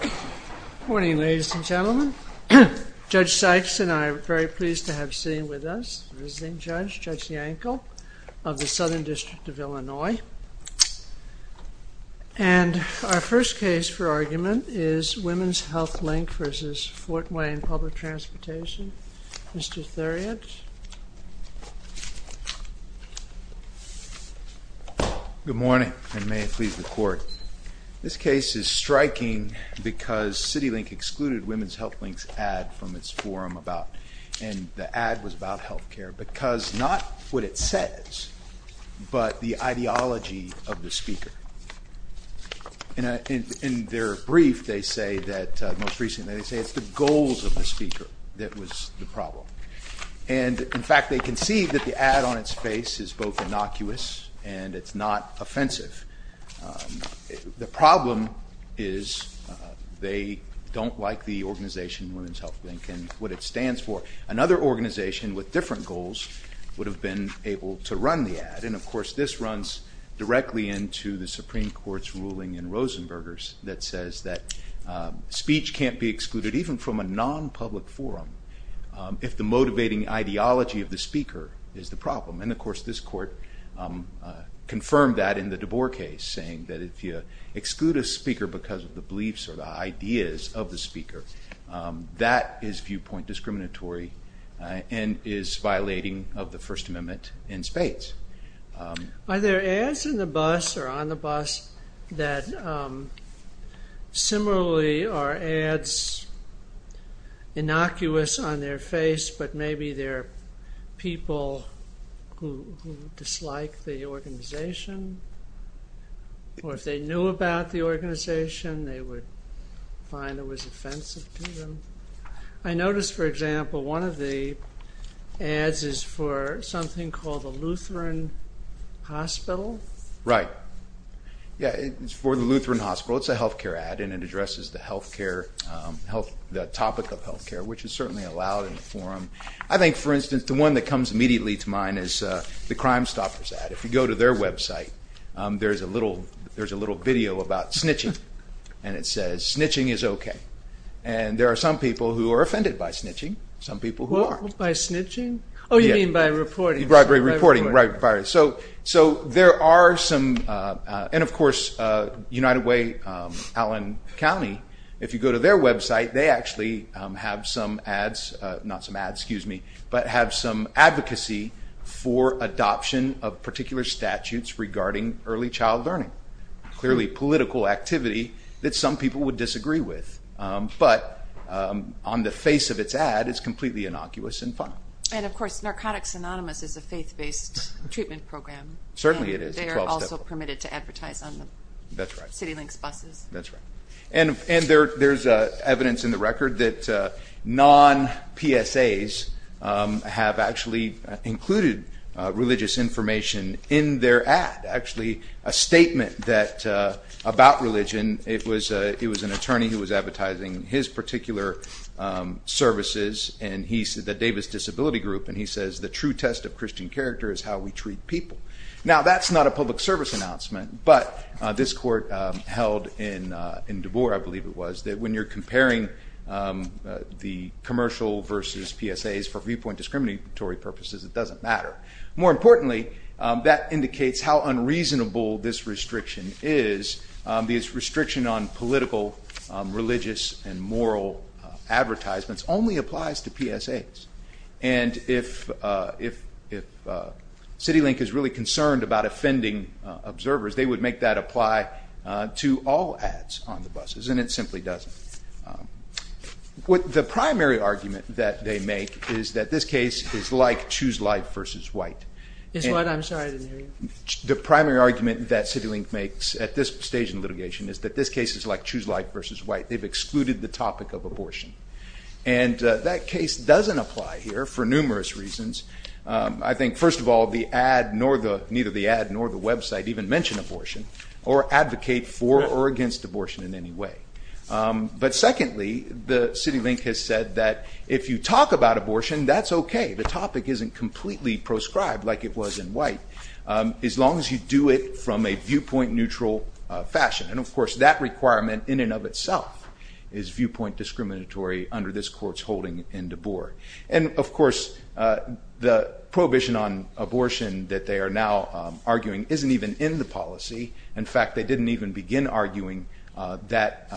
Good morning ladies and gentlemen. Judge Sykes and I are very pleased to have sitting with us the visiting judge, Judge Yankel of the Southern District of Illinois. And our first case for argument is Women's Health Link v. Fort Wayne Public Transportation. Mr. Thuriot. Good morning and may it please the court. This case is striking because CityLink excluded Women's Health Link's ad from its forum about and the ad was about health care because not what it says but the ideology of the speaker. In their brief they say that most recently they say it's the goals of the speaker that was the problem. And in fact they can see that the ad on its face is both innocuous and it's not offensive. The problem is they don't like the organization Women's Health Link and what it stands for. Another organization with different goals would have been able to run the ad and of course this runs directly into the Supreme Court's ruling in Rosenberger's that says that speech can't be excluded even from a non-public forum if the motivating ideology of the speaker is the problem. And of course this court confirmed that in the DeBoer case saying that if you exclude a speaker because of the beliefs or the ideas of the speaker that is viewpoint discriminatory and is violating of the First Amendment in spades. Are there ads in the bus or on the bus that similarly are ads innocuous on their face but maybe they're people who dislike the organization or if they knew about the organization they would find it was offensive to them. I noticed for example one of the ads is for something called the Lutheran Hospital. Right yeah it's for the Lutheran Hospital it's a health care ad and it I think for instance the one that comes immediately to mind is the Crimestoppers ad. If you go to their website there's a little there's a little video about snitching and it says snitching is okay and there are some people who are offended by snitching some people who aren't. By snitching? Oh you mean by reporting. Right by reporting. So there are some and of course United Way Allen County if you go to their website they actually have some ads not some ads excuse me but have some advocacy for adoption of particular statutes regarding early child learning clearly political activity that some people would disagree with but on the face of its ad it's completely innocuous and funny. And of course Narcotics Anonymous is a faith-based treatment program. Certainly it is. They are also permitted to advertise on the city links buses. That's right and there's evidence in the record that non-PSAs have actually included religious information in their ad actually a statement that about religion it was an attorney who was advertising his particular services and he said the Davis Disability Group and he says the true test of Christian character is how we treat people. Now that's not a public service announcement but this court held in in DeBoer I believe it was that when you're comparing the commercial versus PSAs for viewpoint discriminatory purposes it doesn't matter. More importantly that indicates how unreasonable this restriction is. This restriction on political religious and moral advertisements only applies to PSAs and if CityLink is really concerned about offending observers they would make that apply to all ads on the buses and it simply doesn't. What the primary argument that they make is that this case is like Choose Life versus White. Is what? I'm sorry I didn't hear you. The primary argument that CityLink makes at this stage in litigation is that this case is like Choose Life versus White. They've excluded the topic of abortion and that case doesn't apply here for numerous reasons. I think first of all the ad nor the neither the ad nor the website even mentioned abortion or advocate for or against abortion in any way. But secondly the CityLink has said that if you talk about abortion that's okay the topic isn't completely proscribed like it was in White as long as you do it from a viewpoint neutral fashion. And of course that requirement in and of itself is viewpoint discriminatory under this court's holding in DeBoer. And of course the prohibition on abortion that they are now arguing isn't even in the policy. In fact they didn't even begin arguing that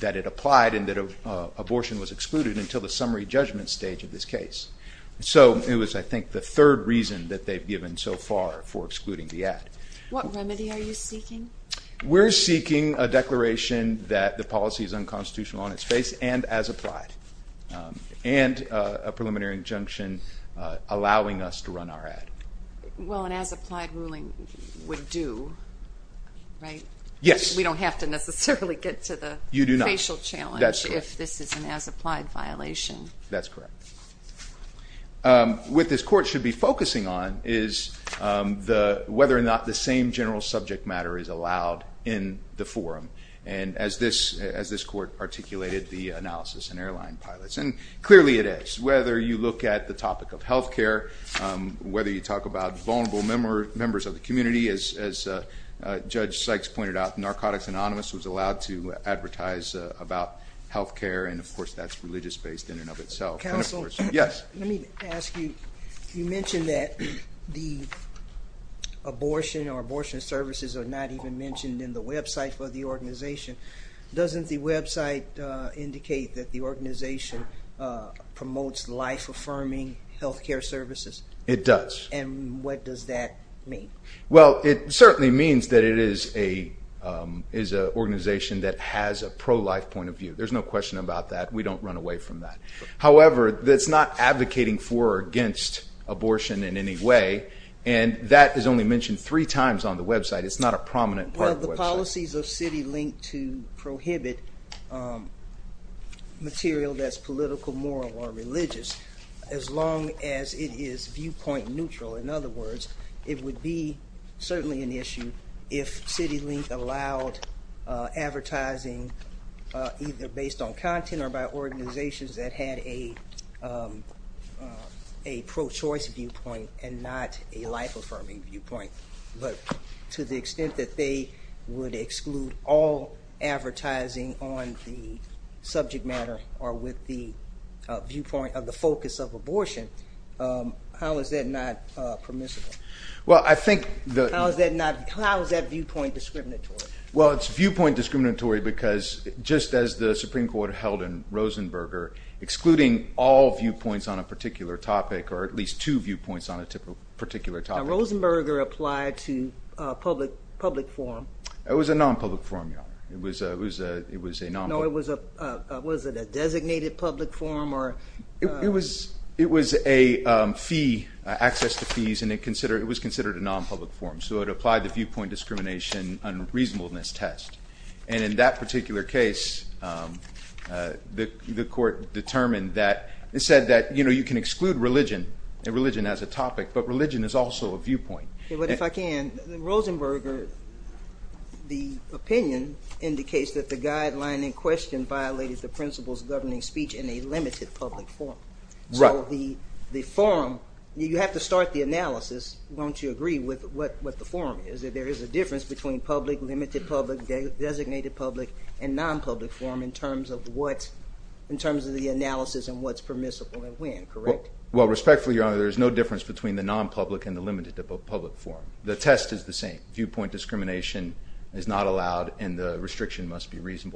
that it applied and that abortion was excluded until the summary judgment stage of this case. So it was I think the far for excluding the ad. What remedy are you seeking? We're seeking a declaration that the policy is unconstitutional on its face and as applied. And a preliminary injunction allowing us to run our ad. Well an as applied ruling would do right? Yes. We don't have to necessarily get to the facial challenge if this is an as applied violation. That's correct. What this court should be focusing on is the whether or not the same general subject matter is allowed in the forum. And as this as this court articulated the analysis and airline pilots and clearly it is. Whether you look at the topic of health care, whether you talk about vulnerable members of the community as Judge Sykes pointed out, Narcotics Anonymous was allowed to Yes. Let me ask you, you mentioned that the abortion or abortion services are not even mentioned in the website for the organization. Doesn't the website indicate that the organization promotes life affirming health care services? It does. And what does that mean? Well it certainly means that it is a organization that has a pro-life point of view. There's no question about that. We don't run away from that. However, that's not advocating for or against abortion in any way. And that is only mentioned three times on the website. It's not a prominent part of the policies of CityLink to prohibit material that's political, moral, or religious as long as it is viewpoint neutral. In other words, it would be certainly an issue if CityLink allowed advertising either based on content or by organizations that had a pro-choice viewpoint and not a life affirming viewpoint. But to the extent that they would exclude all advertising on the subject matter or with the viewpoint of the focus of abortion, how is that not permissible? How is that viewpoint discriminatory? Well it's viewpoint discriminatory because just as the Supreme Court held in Rosenberger, excluding all viewpoints on a particular topic or at least two viewpoints on a particular topic. Now Rosenberger applied to public forum. It was a non-public forum, Your Honor. It was a non-public forum. No, was it a designated public forum? It was a fee, access to fees, and it was considered a non-public forum. So it applied the viewpoint discrimination and reasonableness test. And in that particular case, the court determined that, it said that, you know, you can exclude religion and religion as a topic, but religion is also a viewpoint. But if I can, in Rosenberger, the opinion indicates that the guideline in question violated the principles governing speech in a limited public forum. So the forum, you have to start the analysis, don't you, agree with what the forum is, that there is a difference between public, limited public, designated public, and non-public forum in terms of what, in terms of the analysis and what's permissible and when, correct? Well respectfully, Your Honor, there is no difference between the non-public and the limited public forum. The test is the same. Viewpoint discrimination is not allowed and the restriction must be we're saying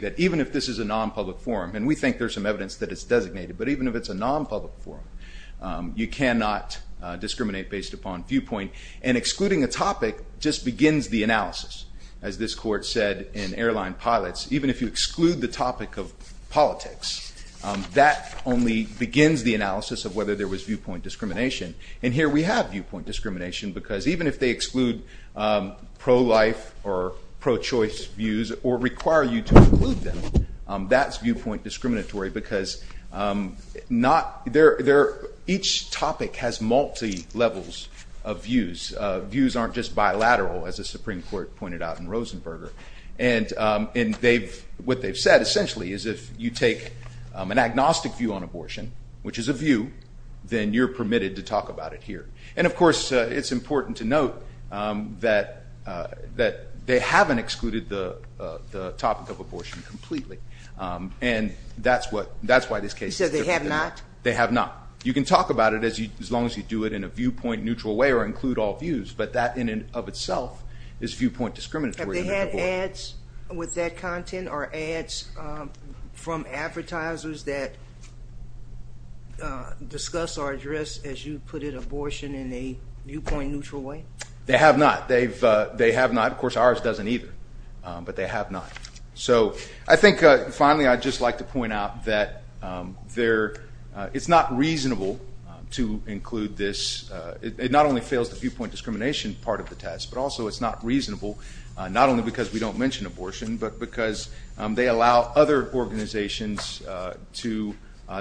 that even if this is a non-public forum, and we think there's some evidence that it's designated, but even if it's a non-public forum, you cannot discriminate based upon viewpoint and excluding a topic just begins the analysis. As this court said in airline pilots, even if you exclude the topic of politics, that only begins the analysis of whether there was viewpoint discrimination. And here we have viewpoint discrimination because even if they exclude pro-life or pro-choice views or require you to include them, that's viewpoint discriminatory because each topic has multi-levels of views. Views aren't just bilateral as the Supreme Court pointed out in Rosenberger. And what they've said essentially is if you take an agnostic view on abortion, which is a view, then you're permitted to talk about it here. And of course it's important to note that they haven't excluded the topic of abortion completely. And that's what, that's why this case. You said they have not? They have not. You can talk about it as you, as long as you do it in a viewpoint neutral way or include all views, but that in and of itself is viewpoint discriminatory. Have they had ads with that content or ads from advertisers that discuss our address as you put it, abortion in a viewpoint neutral way? They have not. They've, they have not. Of course ours doesn't either, but they have not. So I think finally I'd just like to point out that there, it's not reasonable to include this. It not only fails the viewpoint discrimination part of the test, but also it's not reasonable, not only because we don't mention abortion, but because they allow other organizations to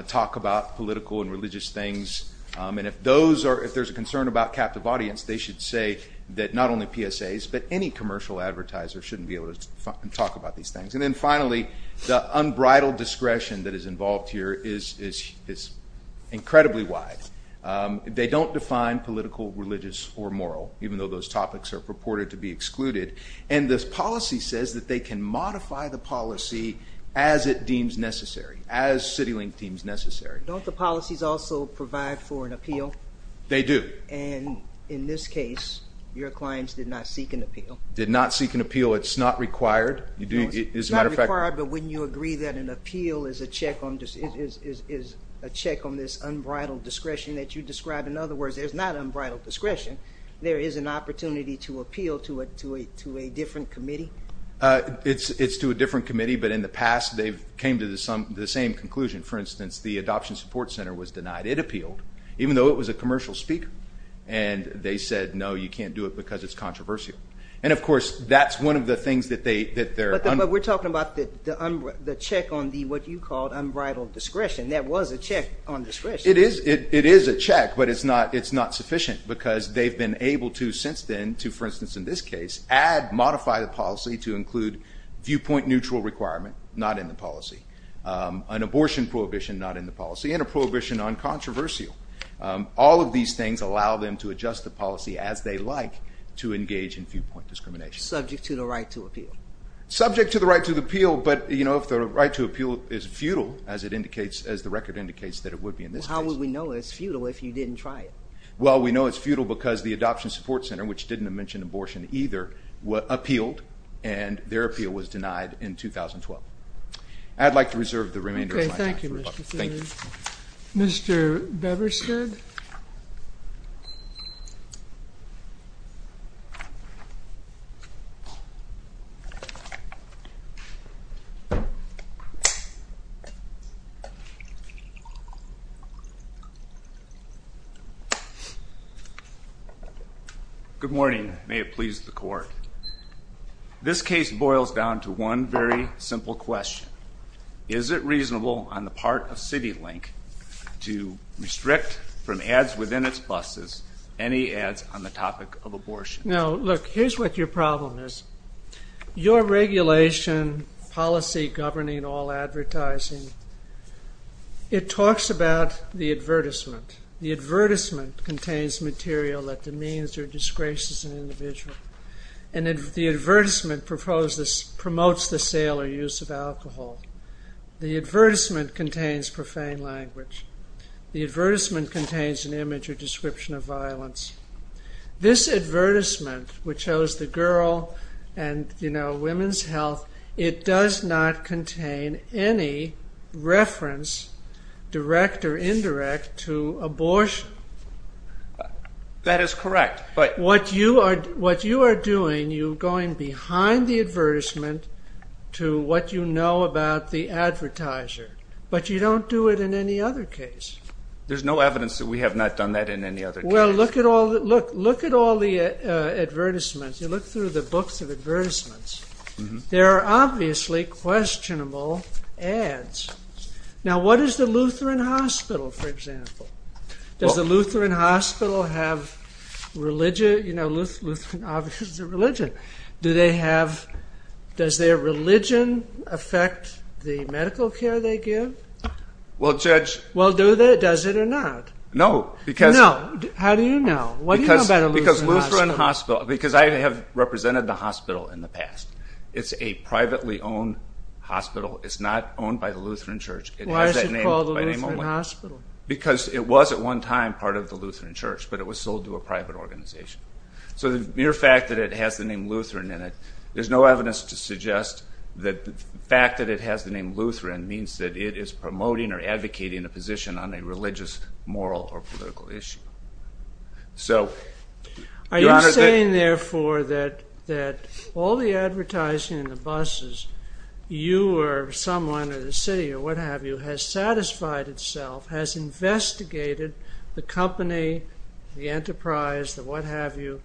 talk about political and religious things. And if those are, if there's a concern about captive audience, they should say that not only PSAs, but any commercial advertiser shouldn't be able to talk about these things. And then finally, the unbridled discretion that is involved here is incredibly wide. They don't define political, religious, or moral, even though those topics are purported to be excluded. And this policy says that they can modify the policy as it deems necessary, as Citilink deems necessary. Don't the policies also provide for an appeal? They do. And in this case, your clients did not seek an appeal. Did not seek an appeal. It's not required. You do, as a matter of fact. It's not required, but wouldn't you agree that an appeal is a check on, is a check on this unbridled discretion that you describe? In other words, there's not It's to a different committee, but in the past, they've came to the same conclusion. For instance, the Adoption Support Center was denied. It appealed, even though it was a commercial speaker. And they said, no, you can't do it because it's controversial. And of course, that's one of the things that they, that they're. But we're talking about the check on the, what you called unbridled discretion. That was a check on discretion. It is, it is a check, but it's not, it's not sufficient because they've been able to, since then, to, for instance, in this case, add, modify the policy to include viewpoint neutral requirement, not in the policy. An abortion prohibition, not in the policy, and a prohibition on controversial. All of these things allow them to adjust the policy as they like to engage in viewpoint discrimination. Subject to the right to appeal. Subject to the right to appeal, but you know, if the right to appeal is futile, as it indicates, as the record indicates that it would be in this case. Well, how would we know it's futile if you didn't try it? Well, we know it's futile because the Adoption Support Center, which didn't mention abortion either, appealed and their appeal was denied in 2012. I'd like to reserve the remainder of my time. Okay, thank you, Mr. Seward. Thank you. Mr. Beverstead? Good morning. May it please the Court. This case boils down to one very simple question. Is it reasonable on the part of CityLink to restrict from ads within its buses any ads on the topic of abortion? No, look, here's what your problem is. Your regulation policy governing all advertising, it talks about the advertisement. The advertisement contains material that demeans or disgraces an individual. And if the advertisement promotes the sale or use of alcohol. The advertisement contains profane language. The advertisement contains an image or description of violence. This advertisement, which shows the girl and women's health, it does not contain any reference, direct or indirect, to abortion. That is correct. But what you are doing, you're going behind the advertisement to what you know about the advertiser. But you don't do it in any other case. There's no evidence that we have not done that in any other case. Well, look at all the advertisements. You look through the books of advertisements. There are obviously questionable ads. Now, what is the Lutheran Hospital have religion? Does their religion affect the medical care they give? Well, Judge. Well, does it or not? No. How do you know? Because I have represented the hospital in the past. It's a privately owned hospital. It's not owned by the Lutheran Church. Why is it called hospital? Because it was at one time part of the Lutheran Church, but it was sold to a private organization. So the mere fact that it has the name Lutheran in it, there's no evidence to suggest that the fact that it has the name Lutheran means that it is promoting or advocating a position on a religious, moral or political issue. So are you saying, therefore, that that all the advertising in the buses, you or someone or the city or what have you, has satisfied itself, has investigated the company, the enterprise, the what have you,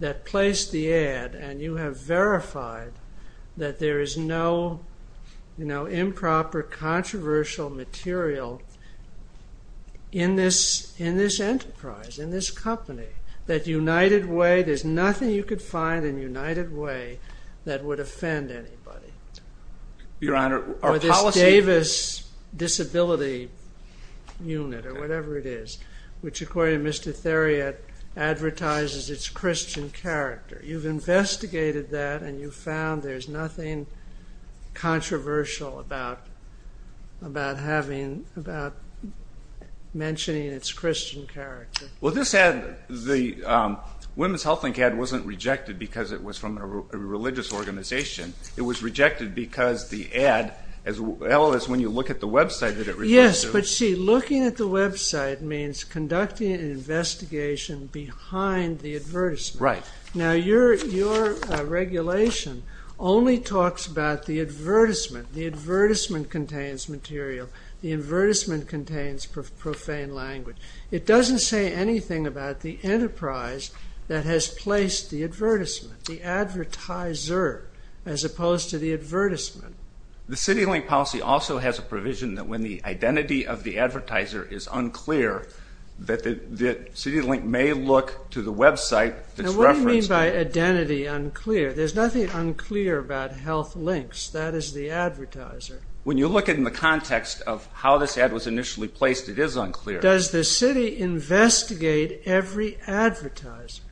that placed the ad and you have verified that there is no improper, controversial material in this enterprise, in this company, that United Way, there's nothing you could find in United Way that would offend anybody? Your Honor, our policy... Or this Davis Disability Unit or whatever it is, which according to Mr. Theriot, advertises its Christian character. You've investigated that and you found there's nothing controversial about mentioning its Christian character. The Women's Health Link ad wasn't rejected because it was from a religious organization. It was rejected because the ad, as well as when you look at the website that it... Yes, but see, looking at the website means conducting an investigation behind the advertisement. Now your regulation only talks about the advertisement. The advertisement contains material. The advertisement contains profane language. It doesn't say anything about the enterprise that has placed the advertisement, the advertiser, as opposed to the advertisement. The CityLink policy also has a provision that when the identity of the advertiser is unclear, that the CityLink may look to the website that's referenced... Now what do you mean by identity unclear? There's nothing unclear about Health Links, that is the advertiser. When you look at it in the context of how this ad was initially placed, it is unclear. Does the city investigate every advertiser?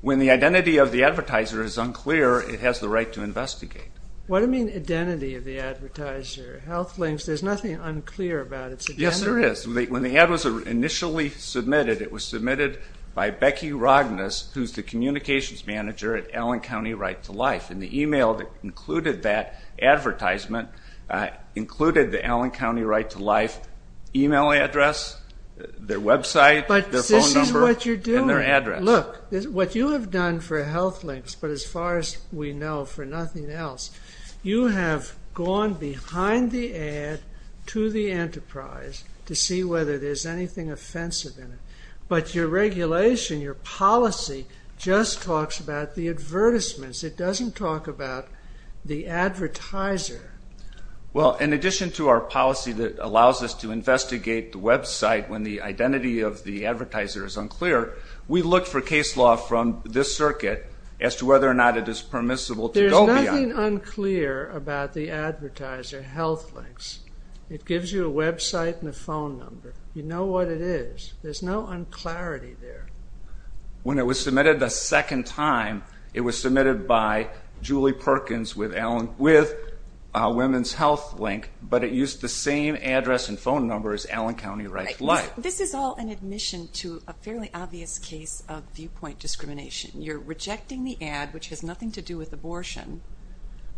When the identity of the advertiser is unclear, it has the right to investigate. What do you mean identity of the advertiser? Health Links, there's nothing unclear about its identity. Yes, there is. When the ad was initially submitted, it was submitted by Becky Rognes, who's the communications manager at Allen County Right to Life, and the email that included that advertisement included the Allen County Right to Life email address, their website, their phone number, and their address. Look, what you have done for Health Links, but as far as we know, for nothing else, you have gone behind the ad to the enterprise to see whether there's anything offensive in it. But your regulation, your policy, just talks about the advertisements. It doesn't talk about the advertiser. Well, in addition to our policy that allows us to investigate the website when the identity of the advertiser is unclear, we look for case law from this circuit as to whether or not it is permissible to go beyond... There's nothing unclear about the advertiser, Health Links. It gives you a website and a phone number. You know what it is. There's no un-clarity there. When it was submitted the second time, it was submitted by Julie Perkins with Women's Health Link, but it used the same address and phone number as Allen County Right to Life. This is all an admission to a fairly obvious case of viewpoint discrimination. You're rejecting the ad, which has nothing to do with abortion,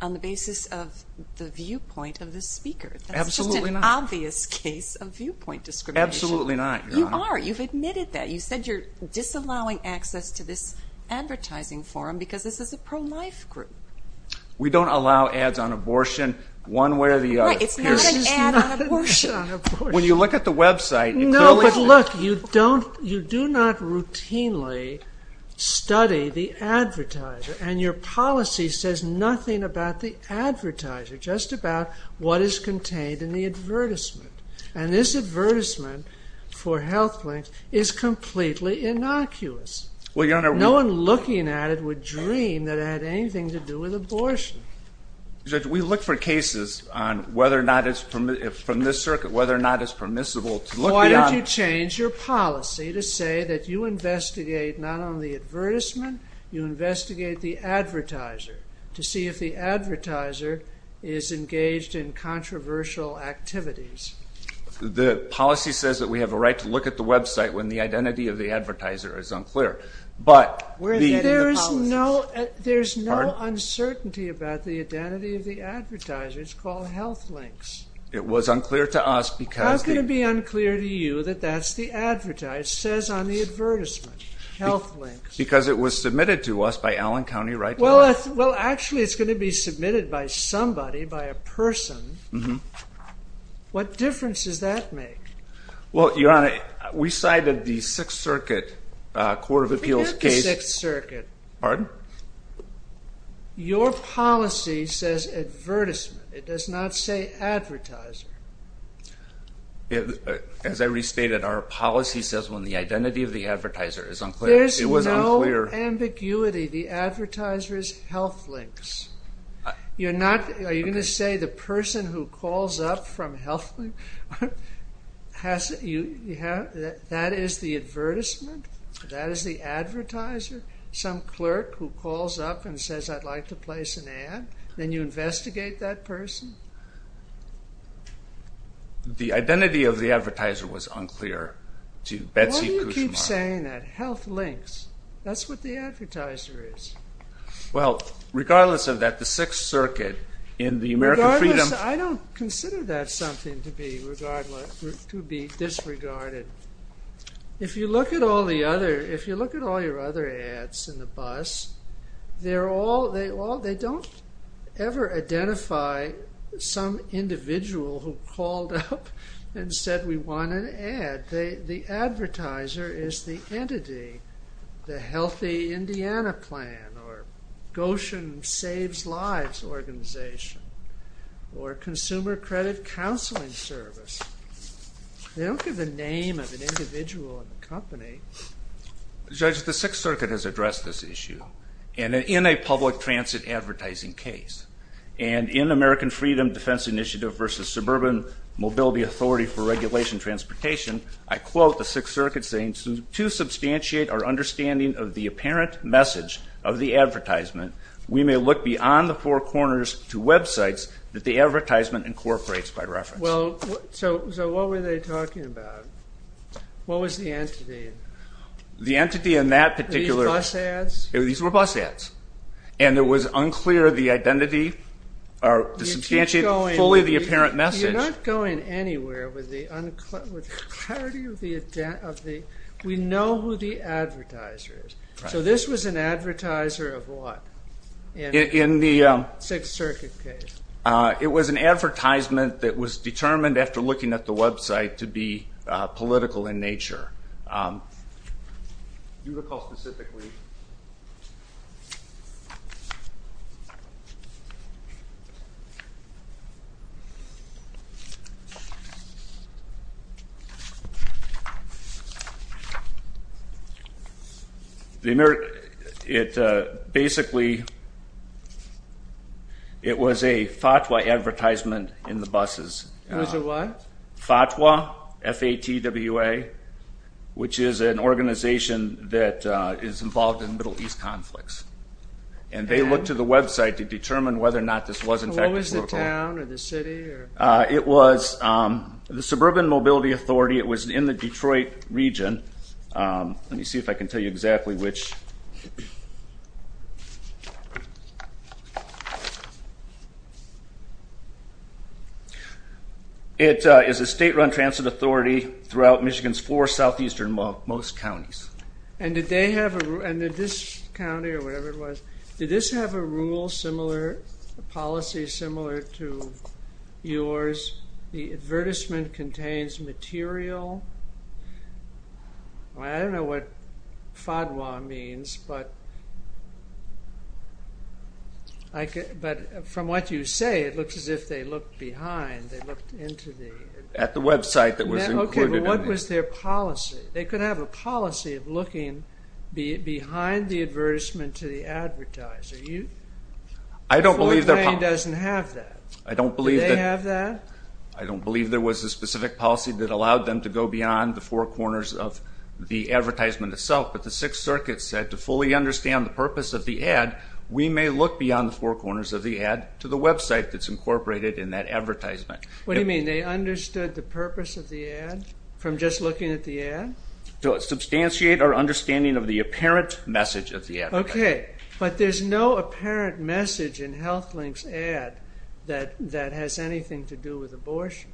on the basis of the viewpoint of the speaker. Absolutely not. ...obvious case of viewpoint discrimination. Absolutely not, Your Honor. You are. You've admitted that. You said you're disallowing access to this advertising forum because this is a pro-life group. We don't allow ads on abortion one way or the other. Right. It's not an ad on abortion. When you look at the website... No, but look, you do not routinely study the advertiser, and your policy says nothing about the advertiser, just about what is contained in the advertisement, and this advertisement for Health Link is completely innocuous. Well, Your Honor, we... No one looking at it would dream that it had anything to do with abortion. Judge, we look for cases on whether or not it's permissible, from this circuit, whether or not it's permissible to look beyond... Why don't you change your policy to say that you investigate not on the advertisement, you investigate the advertiser, to see if the advertiser is engaged in controversial activities? The policy says that we have a right to look at the website when the identity of the advertiser is unclear, but... We're getting the policies. There's no uncertainty about the identity of the advertiser. It's called Health Links. It was unclear to us because... How can it be unclear to you that that's the advertiser? It says on the advertisement, Health Links. Because it was submitted to us by Allen County, right? Well, actually, it's going to be submitted by somebody, by a person. What difference does that make? Well, Your Honor, we cited the Sixth Circuit Court of Appeals case... Forget the Sixth Circuit. Pardon? Your policy says advertisement. It does not say advertiser. As I restated, our policy says when the identity of the advertiser is unclear... There's no ambiguity. The advertiser is Health Links. Are you going to say the person who calls up from Health Links, that is the advertisement? That is the advertiser? Some clerk who calls up and says, I'd like to place an ad? Then you investigate that person? The identity of the advertiser was unclear to Betsy Kushmar. Health Links. That's what the advertiser is. Well, regardless of that, the Sixth Circuit in the American Freedom... I don't consider that something to be disregarded. If you look at all your other ads in the bus, they don't ever identify some individual who called up and said, we want an ad. The advertiser is the entity, the Healthy Indiana Plan, or Goshen Saves Lives Organization, or Consumer Credit Counseling Service. They don't give the name of an individual in the company. Judge, the Sixth Circuit has addressed this issue in a public transit advertising case. And in American Freedom Defense Initiative versus Suburban Mobility Authority for Regulation Transportation, I quote the Sixth Circuit saying, to substantiate our understanding of the apparent message of the advertisement, we may look beyond the four corners to websites that the advertisement incorporates by reference. Well, so what were they talking about? What was the entity? The entity in that particular... These bus ads? These were bus ads. And it was unclear the identity, or to substantiate fully the apparent message. You're not going anywhere with the clarity of the... We know who the advertiser is. So this was an advertiser of what in the Sixth Circuit case? It was an advertisement that was determined after looking at the website to be political in nature. Do you recall specifically? It basically... It was a FATWA advertisement in the buses. It was a what? FATWA, F-A-T-W-A, which is an organization that is involved in Middle East conflicts. And they looked at the website to determine whether or not this was in fact a political... So what was the town or the city or... It was the Suburban Mobility Authority. It was in the Detroit region. Let me see if I can tell you exactly which. It is a state-run transit authority throughout Michigan's four southeastern-most counties. And did they have a... And did this county or whatever it was, did this have a rule similar, a policy similar to yours? The advertisement contains material... I don't know what FATWA means, but I'm not sure what FATWA means, but I'm not sure what FATWA means. But from what you say, it looks as if they looked behind. They looked into the... At the website that was included in the... Okay, but what was their policy? They could have a policy of looking behind the advertisement to the advertiser. You... I don't believe their... The 4th Plain doesn't have that. I don't believe that... Do they have that? I don't believe there was a specific policy that allowed them to go beyond the four corners of the advertisement itself, but the Sixth Circuit said, to fully understand the purpose of the ad, we may look beyond the four corners of the ad to the website that's incorporated in that advertisement. What do you mean? They understood the purpose of the ad from just looking at the ad? To substantiate our understanding of the apparent message of the ad. Okay, but there's no apparent message in HealthLink's ad that has anything to do with abortion.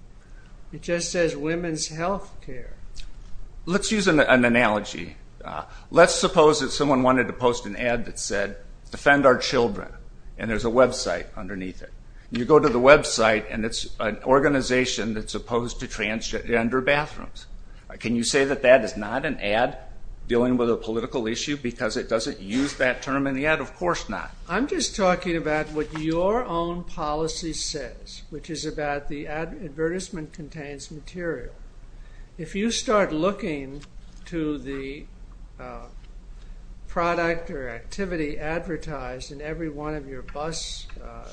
It just says women's health care. Let's use an analogy. Let's suppose that someone wanted to post an ad that said, defend our children, and there's a website underneath it. You go to the website and it's an organization that's opposed to transgender bathrooms. Can you say that that is not an ad dealing with a political issue, because it doesn't use that term in the ad? Of course not. I'm just talking about what your own policy says, which is about the advertisement contains material. If you start looking to the product or activity advertised in every one of your bus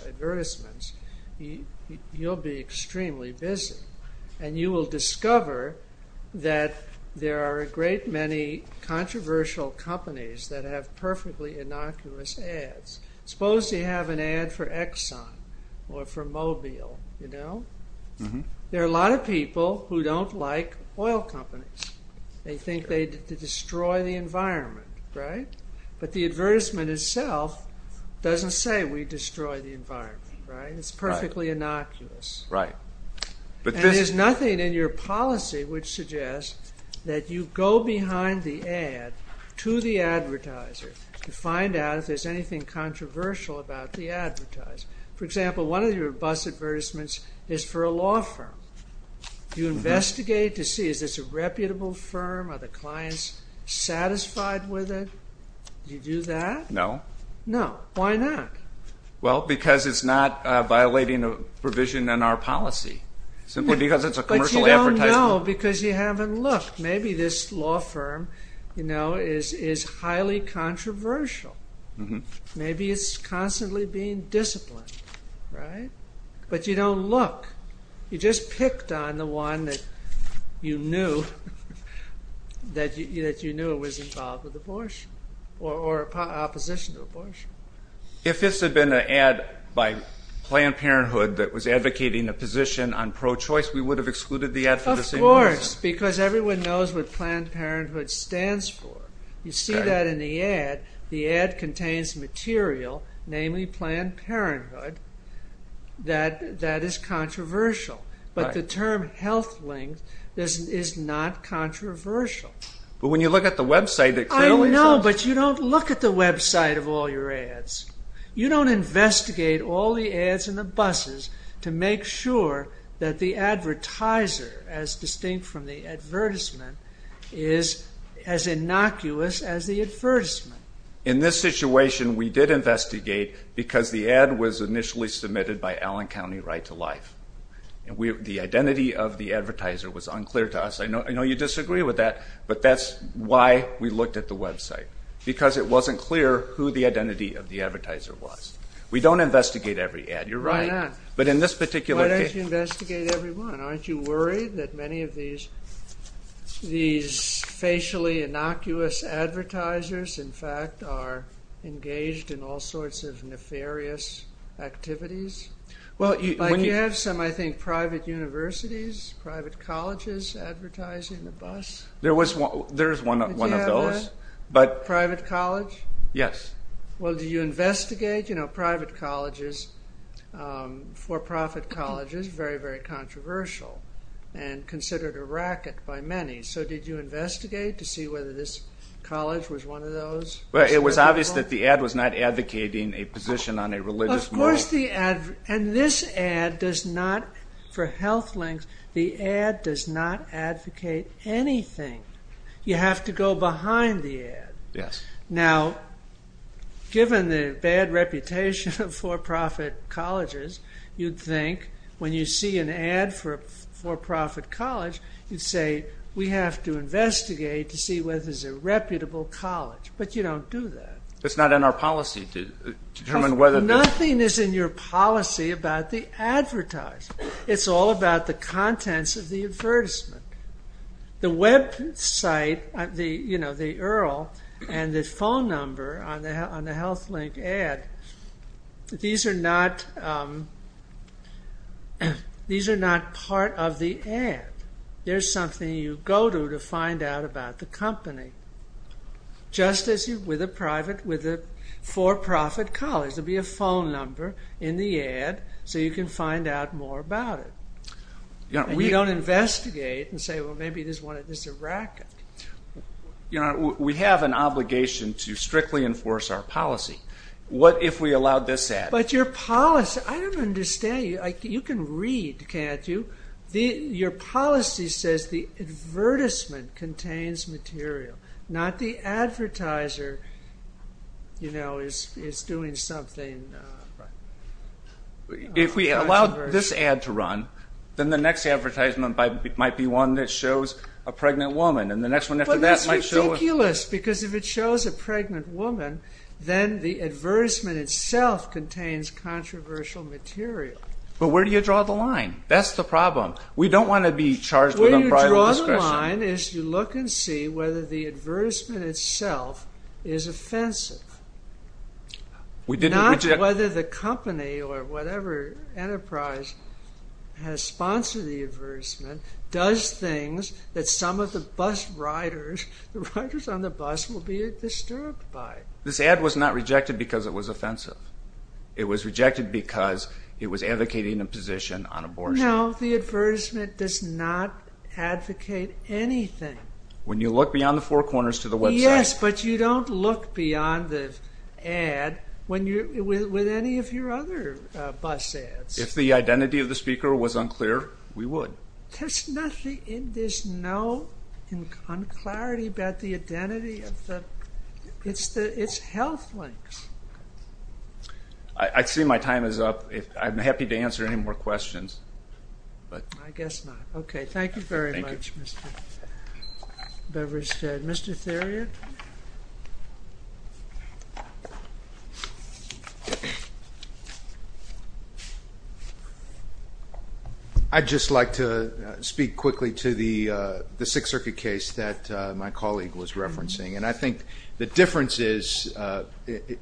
advertisements, you'll be extremely busy, and you will discover that there are a great many controversial companies that have perfectly innocuous ads. Suppose they have an ad for Exxon or for Mobil, you know? There are a lot of people who don't like oil companies. They think they destroy the environment, right? But the advertisement itself doesn't say we destroy the environment, right? It's perfectly innocuous. Right. There's nothing in your policy which suggests that you go behind the ad to the advertiser to find out if there's anything controversial about the advertiser. For example, one of your bus advertisements is for a law firm. You investigate to see, is this a reputable firm? Are the clients satisfied with it? Do you do that? No. No. Why not? Well, because it's not violating a provision in our policy, simply because it's a commercial advertisement. But you don't know because you haven't looked. Maybe this law firm, you know, is highly controversial. Maybe it's constantly being disciplined, right? But you don't look. You just picked on the one that you knew was involved with abortion or opposition to abortion. If this had been an ad by Planned Parenthood that was advocating a position on pro-choice, we would have excluded the ad for the same reason. Of course, because everyone knows what Planned Parenthood stands for. You see that in the ad. The ad contains material, namely Planned Parenthood, that is controversial. But the term health link is not controversial. But when you look at the website that clearly says... I know, but you don't look at the website of all your ads. You don't investigate all the ads in the buses to make sure that the advertiser, as distinct from the advertisement, is as innocuous as the advertisement. In this situation, we did investigate because the ad was initially submitted by Allen County Right to Life. The identity of the advertiser was unclear to us. I know you disagree with that, but that's why we looked at the website, because it wasn't clear who the identity of the advertiser was. We don't investigate every ad. You're right, but in this particular case... Why don't you investigate every one? Aren't you worried that many of these facially innocuous advertisers, in fact, are engaged in all sorts of nefarious activities? Well, you have some, I think, private universities, private colleges advertising the bus. There's one of those, but... Private college? Yes. Well, do you investigate? You know, private colleges, for-profit colleges, very, very controversial and considered a racket by many. So did you investigate to see whether this college was one of those? Well, it was obvious that the ad was not advocating a position on a religious... Of course the ad... And this ad does not, for health links, the ad does not advocate anything. You have to go behind the ad. Yes. Now, given the bad reputation of for-profit colleges, you'd think when you see an ad for a for-profit college, you'd say, we have to investigate to see whether it's a reputable college. But you don't do that. It's not in our policy to determine whether... Nothing is in your policy about the advertisement. It's all about the contents of the advertisement. The website, you know, the URL and the phone number on the health link ad, these are not part of the ad. There's something you go to to find out about the company. Just as with a private, with a for-profit college, there'll be a phone number in the ad so you can find out more about it. We don't investigate and say, well, maybe this one is a racket. You know, we have an obligation to strictly enforce our policy. What if we allowed this ad? But your policy... I don't understand. You can read, can't you? Your policy says the advertisement contains material, not the advertiser, you know, is doing something... If we allowed this ad to run, then the next advertisement might be one that shows a pregnant woman, and the next one after that might show... But that's ridiculous, because if it shows a pregnant woman, then the advertisement itself contains controversial material. But where do you draw the line? That's the problem. We don't want to be charged with unbridled discretion. Where you draw the line is you look and see whether the advertisement itself is offensive. Not whether the company or whatever enterprise has sponsored the advertisement, does things that some of the bus riders, the riders on the bus will be disturbed by. This ad was not rejected because it was offensive. It was rejected because it was advocating a position on abortion. No, the advertisement does not advocate anything. When you look beyond the four corners to the website... Yes, but you don't look beyond the ad with any of your other bus ads. If the identity of the speaker was unclear, we would. There's nothing... There's no clarity about the identity of the... It's health links. I see my time is up. I'm happy to answer any more questions. I guess not. Okay. Thank you very much, Mr. Beverstead. Mr. Theriot? I'd just like to speak quickly to the Sixth Circuit case that my colleague was referencing. I think the difference is on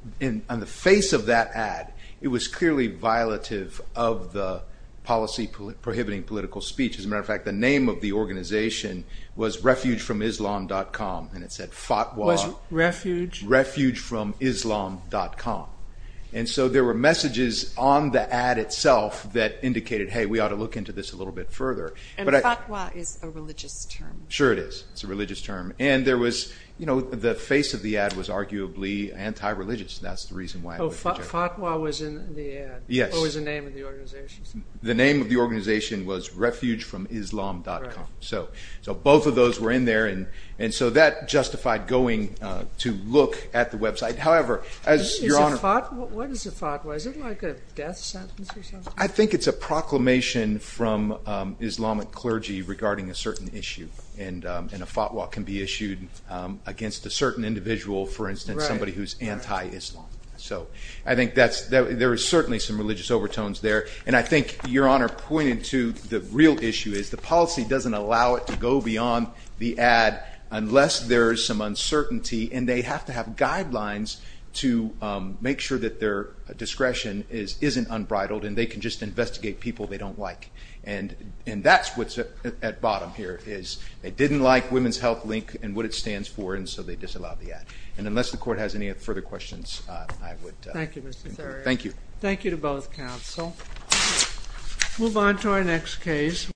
the face of that ad, it was clearly violative of the policy prohibiting political speech. As a matter of fact, the name of the organization was refugefromislam.com and it said Fatwa... Was refuge... Refugefromislam.com. There were messages on the ad itself that indicated, hey, we ought to look into this a little bit further. Fatwa is a religious term. Sure, it is. It's a religious term. You know, the face of the ad was arguably anti-religious. That's the reason why... Oh, Fatwa was in the ad? Yes. What was the name of the organization? The name of the organization was refugefromislam.com. So both of those were in there. And so that justified going to look at the website. However, as Your Honor... What is a Fatwa? Is it like a death sentence or something? I think it's a proclamation from Islamic clergy regarding a certain issue. And a Fatwa can be issued against a certain individual, for instance, somebody who's anti-Islam. So I think there is certainly some religious overtones there. And I think Your Honor pointed to the real issue is the policy doesn't allow it to go beyond the ad unless there is some uncertainty. And they have to have guidelines to make sure that their discretion isn't unbridled and they can just investigate people they don't like. And that's what's at bottom here is they didn't like Women's Health Link and what it stands for. And so they disallowed the ad. And unless the court has any further questions, I would... Thank you, Mr. Thurman. Thank you. Thank you to both counsel. Move on to our next case.